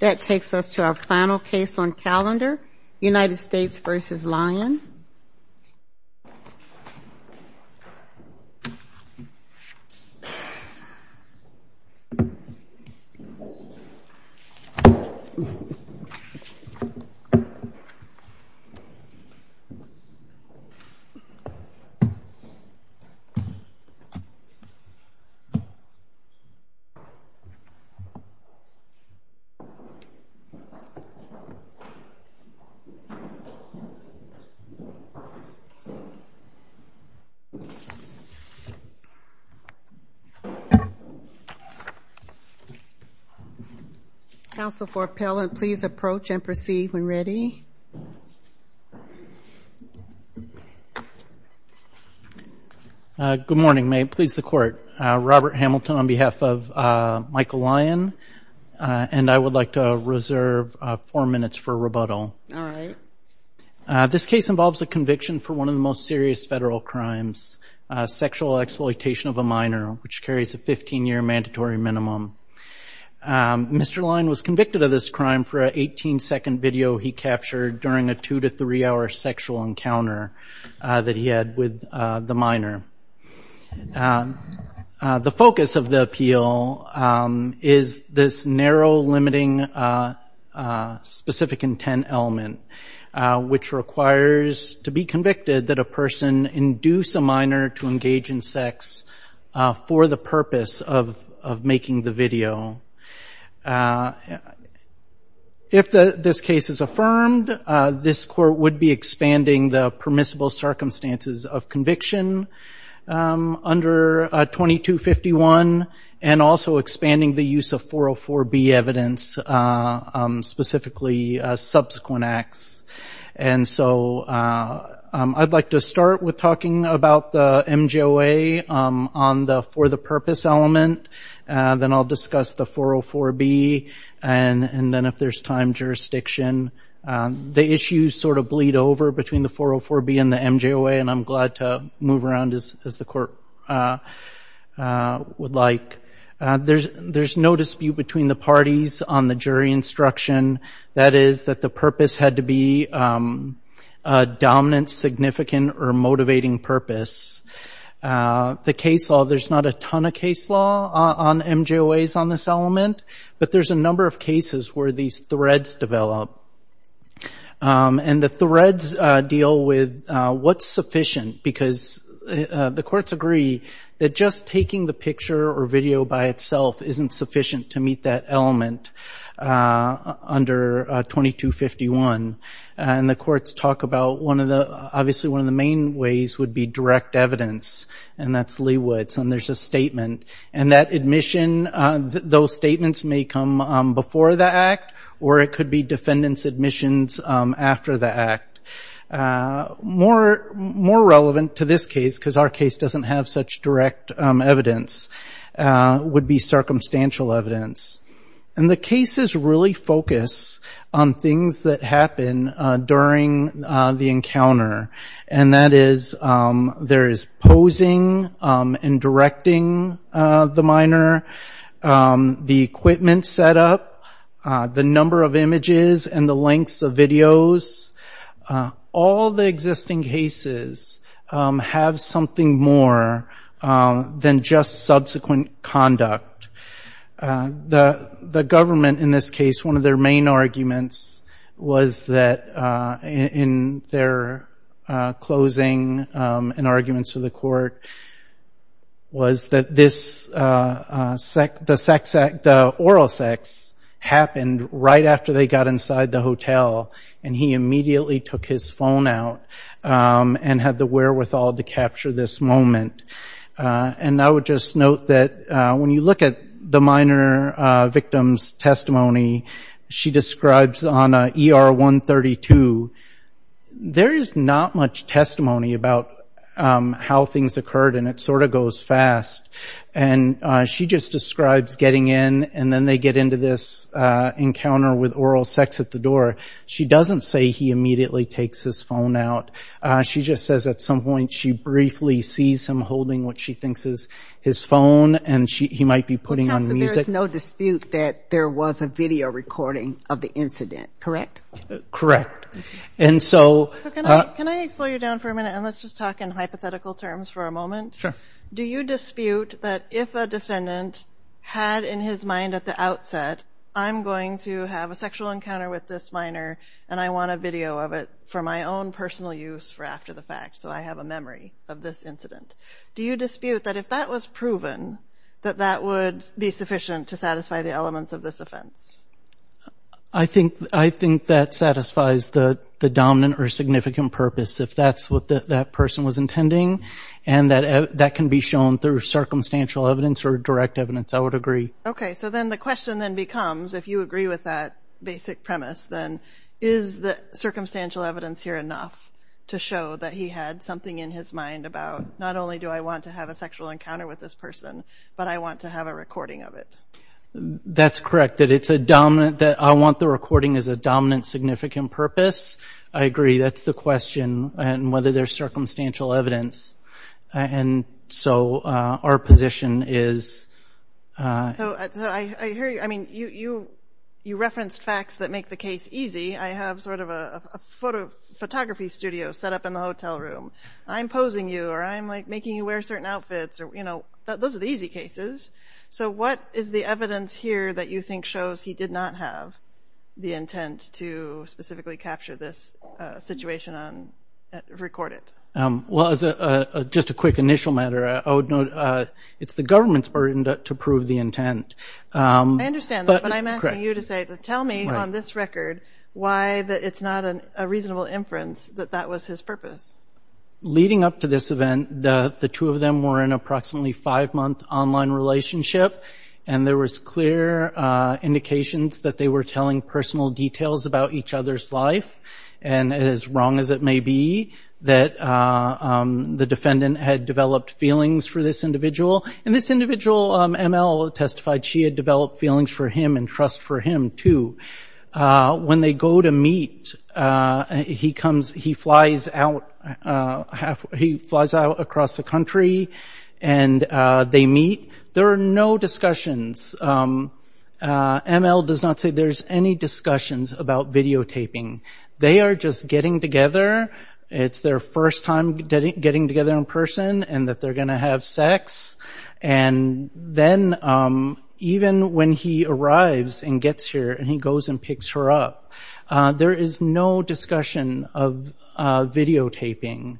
That takes us to our final case on calendar, United States v. Lyon. Counsel for appellant, please approach and proceed when ready. Good morning, may it please the court. Robert Hamilton on behalf of Michael Lyon and I would like to reserve four minutes for rebuttal. This case involves a conviction for one of the most serious federal crimes, sexual exploitation of a minor, which carries a 15-year mandatory minimum. Mr. Lyon was convicted of this crime for an 18-second video he captured during a two- to three-hour sexual encounter that he had with the minor. The focus of the appeal is this narrow, limiting, specific intent element, which requires to be convicted that a person induce a minor to engage in sex for the purpose of making the video. If this case is affirmed, this court would be expanding the permissible circumstances of conviction under 2251, and also expanding the use of 404B evidence, specifically subsequent acts. And so I'd like to start with talking about the MJOA on the for the purpose element, then I'll discuss the 404B, and then if there's time, jurisdiction. The issues sort of bleed over between the 404B and the MJOA, and I'm glad to move around as the court would like. There's no dispute between the parties on the jury instruction. That is that the purpose had to be a dominant, significant, or motivating purpose. The case law, there's not a ton of case law on MJOAs on this element, but there's a number of cases where these threads develop. And the threads deal with what's sufficient, because the courts agree that just taking the picture or video by itself isn't sufficient to meet that element under 2251. And the courts talk about, obviously one of the main ways would be direct evidence, and that's Leawood's, and there's a statement. And that admission, those statements may come before the act, or it could be defendant's admissions after the act. More relevant to this case, because our case doesn't have such direct evidence, would be circumstantial evidence. And the cases really focus on things that happen during the encounter, and that is there is posing and directing, the minor, the equipment set up, the number of images and the lengths of videos. All the existing cases have something more than just subsequent conduct. The government in this case, one of their main arguments was that in their closing, and arguments to the court, was that the oral sex happened right after they got inside the hotel, and he immediately took his phone out and had the wherewithal to capture this moment. And I would just note that when you look at the minor victim's testimony, she describes on ER 132, there is not much testimony about how things occurred, and it sort of goes fast. And she just describes getting in, and then they get into this encounter with oral sex at the door. She doesn't say he immediately takes his phone out. She just says at some point she briefly sees him holding what she thinks is his phone, and he might be putting on music. So there is no dispute that there was a video recording of the incident, correct? Correct. Can I slow you down for a minute, and let's just talk in hypothetical terms for a moment? Sure. Do you dispute that if a defendant had in his mind at the outset, I'm going to have a sexual encounter with this minor, and I want a video of it for my own personal use for after the fact, so I have a memory of this incident. Do you dispute that if that was proven, that that would be sufficient to satisfy the elements of this offense? I think that satisfies the dominant or significant purpose, if that's what that person was intending, and that can be shown through circumstantial evidence or direct evidence, I would agree. Okay, so then the question then becomes, if you agree with that basic premise, then is the circumstantial evidence here enough to show that he had something in his mind about, not only do I want to have a sexual encounter with this person, but I want to have a recording of it? That's correct, that I want the recording as a dominant significant purpose. I agree, that's the question, and whether there's circumstantial evidence, and so our position is... So I hear you, I mean, you referenced facts that make the case easy. I have sort of a photography studio set up in the hotel room. I'm posing you, or I'm like making you wear certain outfits, or you know, those are the easy cases. So what is the evidence here that you think shows he did not have the intent to specifically capture this situation and record it? Well, as just a quick initial matter, I would note it's the government's burden to prove the intent. I understand that, but I'm asking you to say, tell me on this record why it's not a reasonable inference that that was his purpose. Leading up to this event, the two of them were in an approximately five-month online relationship, and there was clear indications that they were telling personal details about each other's life, and as wrong as it may be, that the defendant had developed feelings for this individual. And this individual, ML, testified she had developed feelings for him and trust for him, too. When they go to meet, he flies out across the country, and they meet. There are no discussions. ML does not say there's any discussions about videotaping. They are just getting together. It's their first time getting together in person, and that they're going to have sex. And then even when he arrives and gets here and he goes and picks her up, there is no discussion of videotaping.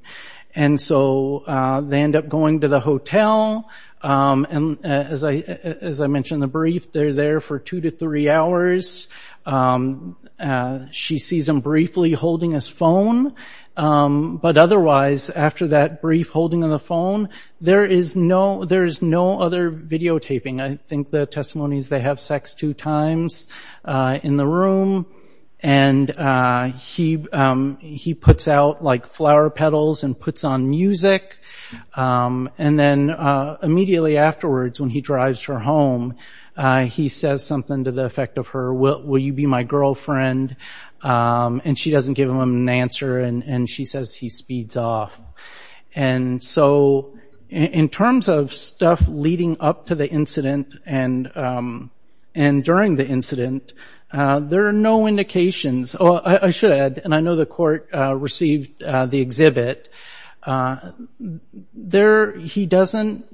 And so they end up going to the hotel, and as I mentioned in the brief, they're there for two to three hours. She sees him briefly holding his phone, but otherwise, after that brief holding of the phone, there is no other videotaping. I think the testimony is they have sex two times in the room, and he puts out flower petals and puts on music. And then immediately afterwards, when he drives her home, he says something to the effect of her, will you be my girlfriend? And she doesn't give him an answer, and she says he speeds off. And so in terms of stuff leading up to the incident and during the incident, there are no indications. I should add, and I know the court received the exhibit, he doesn't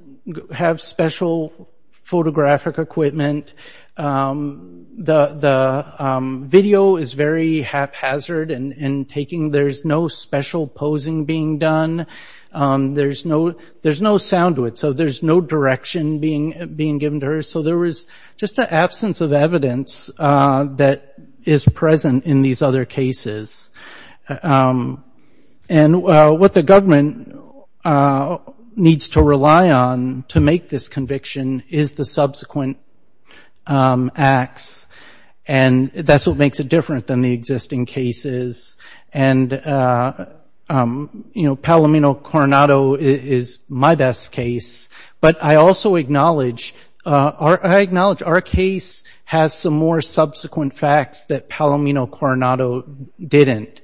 have special photographic equipment. The video is very haphazard in taking. There's no special posing being done. There's no sound to it, so there's no direction being given to her. So there was just an absence of evidence that is present in these other cases. And what the government needs to rely on to make this conviction is the subsequent acts, and that's what makes it different than the existing cases. And Palomino Coronado is my best case, but I also acknowledge our case has some more subsequent facts that Palomino Coronado didn't.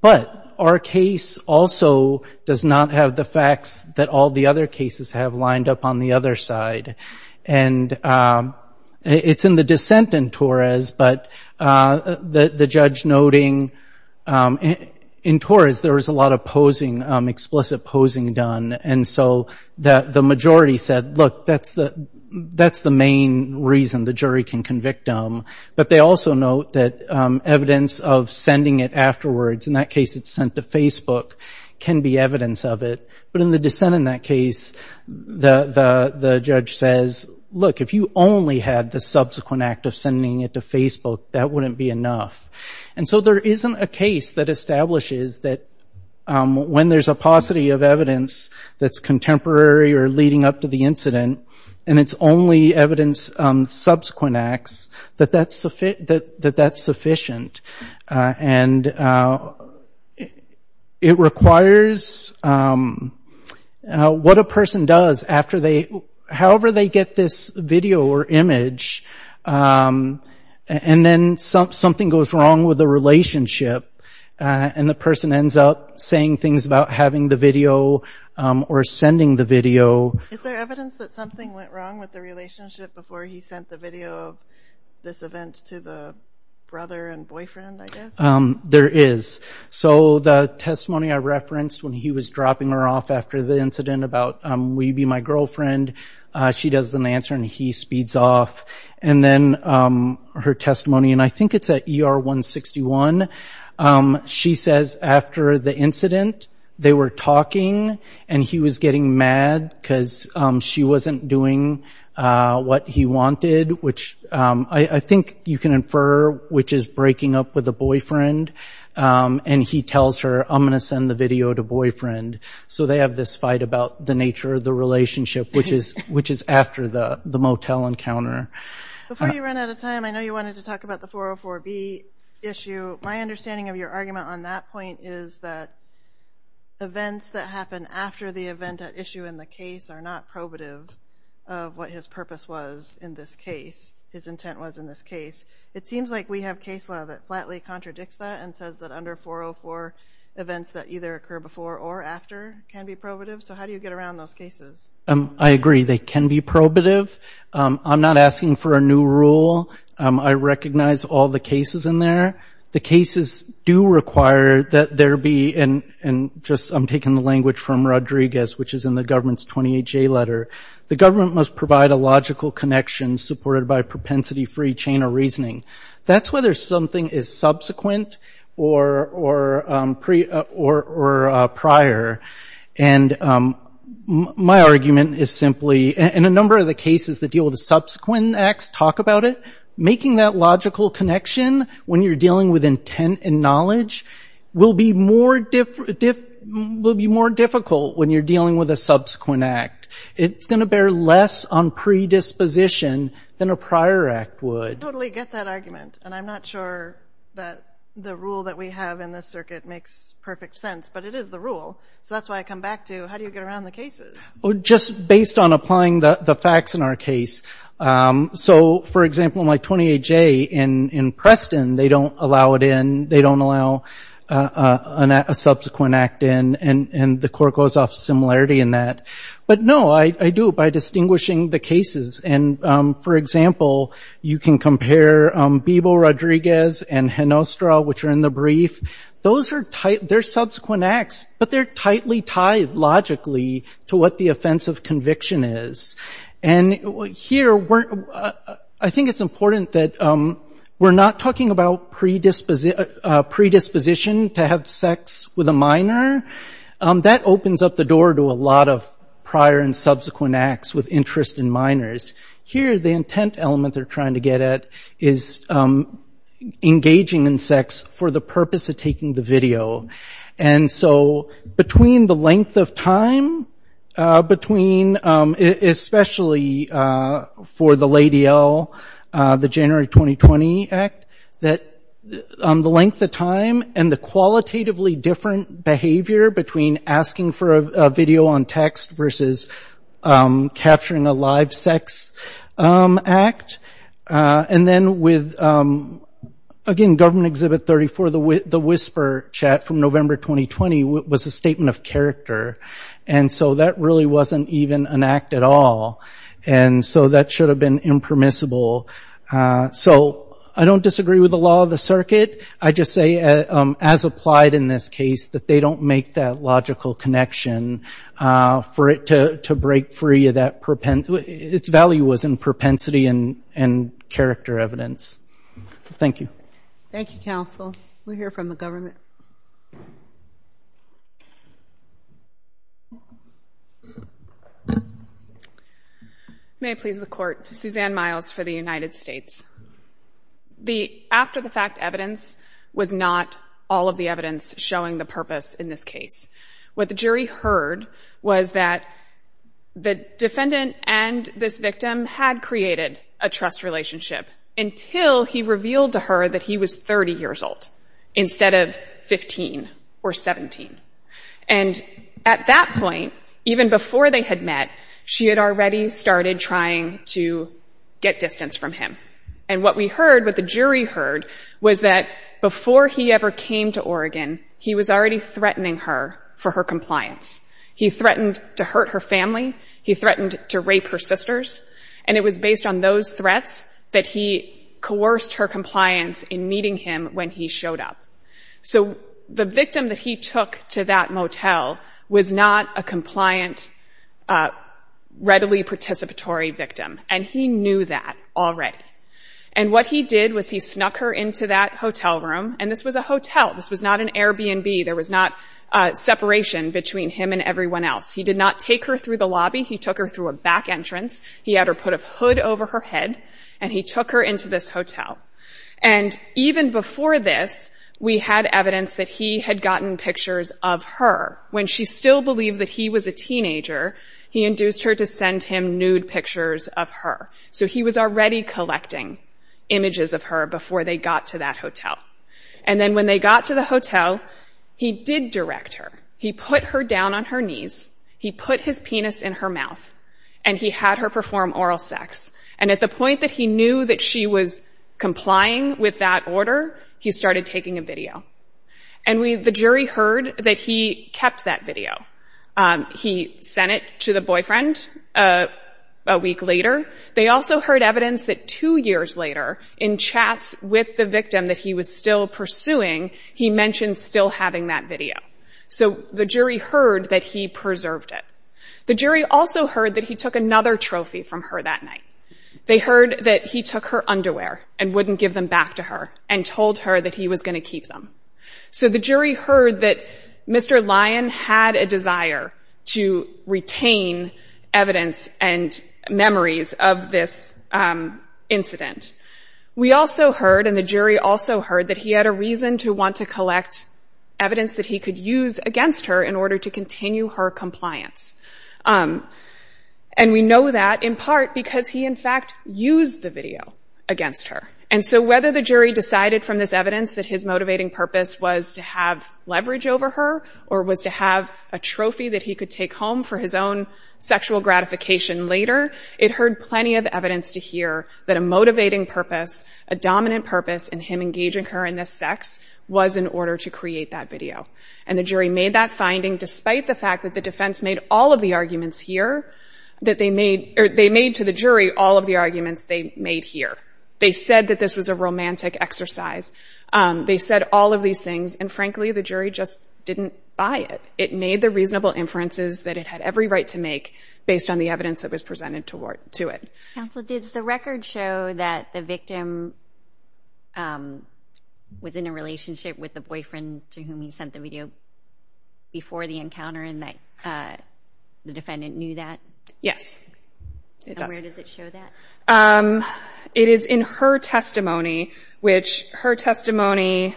But our case also does not have the facts that all the other cases have lined up on the other side. And it's in the dissent in Torres, but the judge noting in Torres there was a lot of posing, explicit posing done. And so the majority said, look, that's the main reason the jury can convict them. But they also note that evidence of sending it afterwards, in that case it's sent to Facebook, can be evidence of it. But in the dissent in that case, the judge says, look, if you only had the subsequent act of sending it to Facebook, that wouldn't be enough. And so there isn't a case that establishes that when there's a paucity of evidence that's contemporary or leading up to the incident, and it's only evidence subsequent acts, that that's sufficient. And it requires, what a person does after they, however they get this video or image, and then something goes wrong with the relationship, and the person ends up saying things about having the video or sending the video. Is there evidence that something went wrong with the relationship before he sent the video of this event to the brother and the boyfriend, I guess? There is. So the testimony I referenced when he was dropping her off after the incident about, will you be my girlfriend, she doesn't answer and he speeds off. And then her testimony, and I think it's at ER 161, she says after the incident, they were talking and he was getting mad because she wasn't doing what he wanted, which I think you can infer, which is breaking up with a boyfriend. And he tells her, I'm going to send the video to boyfriend. So they have this fight about the nature of the relationship, which is after the motel encounter. Before you run out of time, I know you wanted to talk about the 404B issue. My understanding of your argument on that point is that events that happen after the event at issue in the case are not probative of what his purpose was in this case, his intent was in this case. It seems like we have case law that flatly contradicts that and says that under 404, events that either occur before or after can be probative. So how do you get around those cases? I agree. They can be probative. I'm not asking for a new rule. I recognize all the cases in there. The cases do require that there be, and I'm taking the language from Rodriguez, which is in the government's 28J letter, the government must provide a logical connection supported by propensity-free chain of reasoning. That's whether something is subsequent or prior. And my argument is simply, and a number of the cases that deal with the subsequent acts talk about it, making that logical connection when you're dealing with intent and knowledge will be more difficult when you're dealing with a subsequent act. It's going to bear less on predisposition than a prior act would. I totally get that argument. And I'm not sure that the rule that we have in this circuit makes perfect sense. But it is the rule. So that's why I come back to, how do you get around the cases? Just based on applying the facts in our case. So, for example, in my 28J in Preston, they don't allow it in. They don't allow a subsequent act in. And the court goes off similarity. But no, I do it by distinguishing the cases. And, for example, you can compare Bebo Rodriguez and Henostra, which are in the brief. Those are subsequent acts, but they're tightly tied logically to what the offense of conviction is. And here, I think it's important that we're not talking about predisposition to have sex with a minor. That opens up the door to a lot of prior and subsequent acts with interest in minors. Here, the intent element they're trying to get at is engaging in sex for the purpose of taking the video. And so between the length of time, especially for the Lady L, the January 2020 Act, that the length of time and the qualitatively different behavior between asking for a video on text versus capturing a live sex act. And then with, again, Government Exhibit 34, the whisper chat from November 2020 was a statement of character. And so that really wasn't even an act at all. And so that should have been impermissible. So I don't disagree with the law of the circuit. I just say, as applied in this case, that they don't make that logical connection for it to break free of that propensity. Its value was in propensity and character evidence. Thank you. Thank you, counsel. We'll hear from the government. May I please have the court? Suzanne Miles for the United States. The after-the-fact evidence was not all of the evidence showing the purpose in this case. What the jury heard was that the defendant and this victim had created a trust relationship until he revealed to her that he was 30 years old instead of 15 or 17. And at that point, even before they had met, she had already started trying to get distance from him. And what we heard, what the jury heard, was that before he ever came to Oregon, he was already threatening her for her compliance. He threatened to hurt her family. He threatened to rape her sisters. And it was based on those threats that he coerced her compliance in meeting him when he showed up. So the victim that he took to that motel was not a compliant, readily participatory victim. And he knew that already. And what he did was he snuck her into that hotel room, and this was a hotel. This was not an Airbnb. There was not separation between him and everyone else. He did not take her through the lobby. He took her through a back entrance. He had her put a hood over her head, and he took her into this hotel. And even before this, we had evidence that he had gotten pictures of her. When she still believed that he was a teenager, he induced her to send him nude pictures of her. So he was already collecting images of her before they got to that hotel. And then when they got to the hotel, he did direct her. He put her down on her knees. He put his penis in her mouth, and he had her perform oral sex. And at the point that he knew that she was complying with that order, he started taking a video. And the jury heard that he kept that video. He sent it to the boyfriend a week later. They also heard evidence that two years later, in chats with the victim that he was still pursuing, he mentioned still having that video. So the jury heard that he preserved it. The jury also heard that he took another trophy from her that night. They heard that he took her underwear and wouldn't give them back to her, and told her that he was going to keep them. So the jury heard that Mr. Lyon had a desire to retain evidence and memories of this incident. We also heard, and the jury also heard, that he had a reason to want to collect evidence that he could use against her in order to continue her compliance. And we know that in part because he, in fact, used the video against her. And so whether the jury decided from this evidence that his motivating purpose was to have leverage over her, or was to have a trophy that he could take home for his own sexual gratification later, it heard plenty of evidence to hear that a motivating purpose, a dominant purpose in him engaging her in this sex, was in order to create that video. And the jury made that finding, despite the fact that the defense made all of the arguments here, that they made to the jury all of the arguments they made here. They said that this was a romantic exercise. They said all of these things, and frankly, the jury just didn't buy it. It made the reasonable inferences that it had every right to make based on the evidence that was presented to it. Counsel, did the record show that the victim was in a relationship with the boyfriend to whom he sent the video before the encounter and that the defendant knew that? Yes, it does. And where does it show that? It is in her testimony, which her testimony...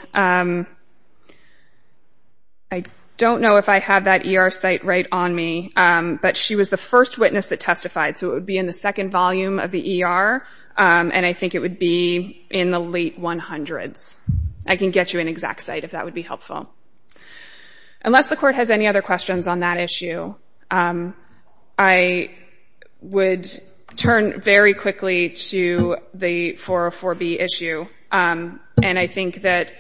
I don't know if I have that ER site right on me, but she was the first witness that testified, so it would be in the second volume of the ER, and I think it would be in the late 100s. I can get you an exact site if that would be helpful. Unless the court has any other questions on that issue, I would turn very quickly to the 404B issue, and I think that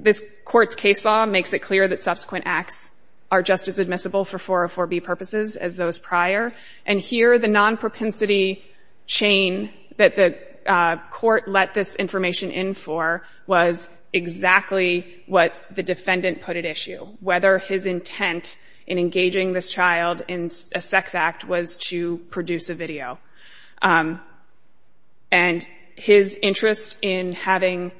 this court's case law makes it clear that subsequent acts are just as admissible for 404B purposes as those prior. And here, the non-propensity chain that the court let this information in for was exactly what it was. It was exactly what the defendant put at issue, whether his intent in engaging this child in a sex act was to produce a video. And his interest in having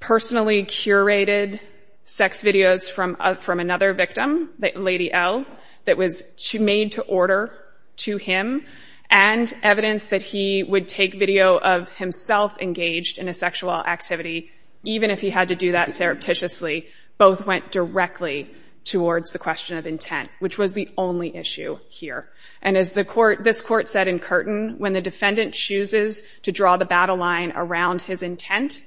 personally curated sex videos from another victim, Lady L, that was made to order to him, and evidence that he would take video of himself engaged in a sexual activity, even if he had to do that surreptitiously, both went directly towards the question of intent, which was the only issue here. And as this court said in Curtin, when the defendant chooses to draw the battle line around his intent,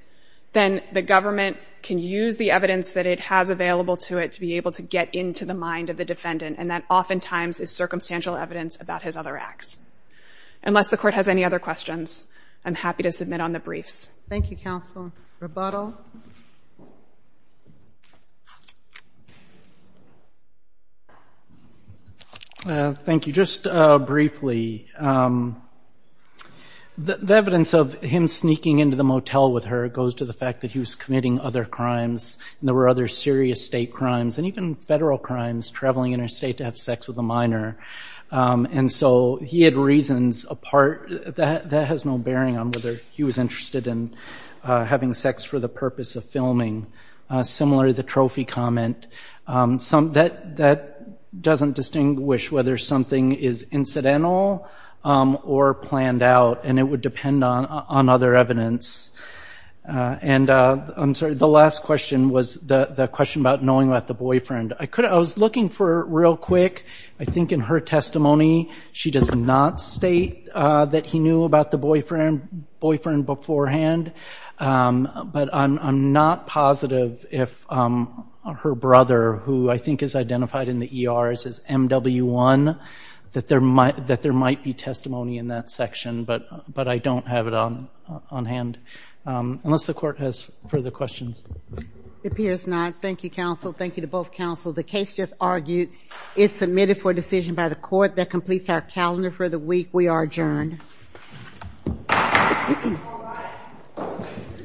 then the government can use the evidence that it has available to it to be able to get into the mind of the defendant, and that oftentimes is circumstantial evidence about his other acts. Unless the court has any other questions, I'm happy to submit on the briefs. Thank you, Counsel. Rebuttal. Thank you. Just briefly, the evidence of him sneaking into the motel with her goes to the fact that he was committing other crimes, and there were other serious state crimes, and even federal crimes, traveling interstate to have sex with a minor. And so he had reasons that has no bearing on whether he was interested in having sex for the purpose of filming. Similarly, the trophy comment, that doesn't distinguish whether something is incidental or planned out, and it would depend on other evidence. And I'm sorry, the last question was the question about knowing about the boyfriend. I was looking for, real quick, I think in her testimony she does not state that he knew about the boyfriend beforehand, but I'm not positive if her brother, who I think is identified in the ERs as MW1, that there might be testimony in that section. But I don't have it on hand. Unless the court has further questions. It appears not. Thank you, Counsel. Thank you to both Counsel. The case just argued is submitted for decision by the court. That completes our calendar for the week. We are adjourned.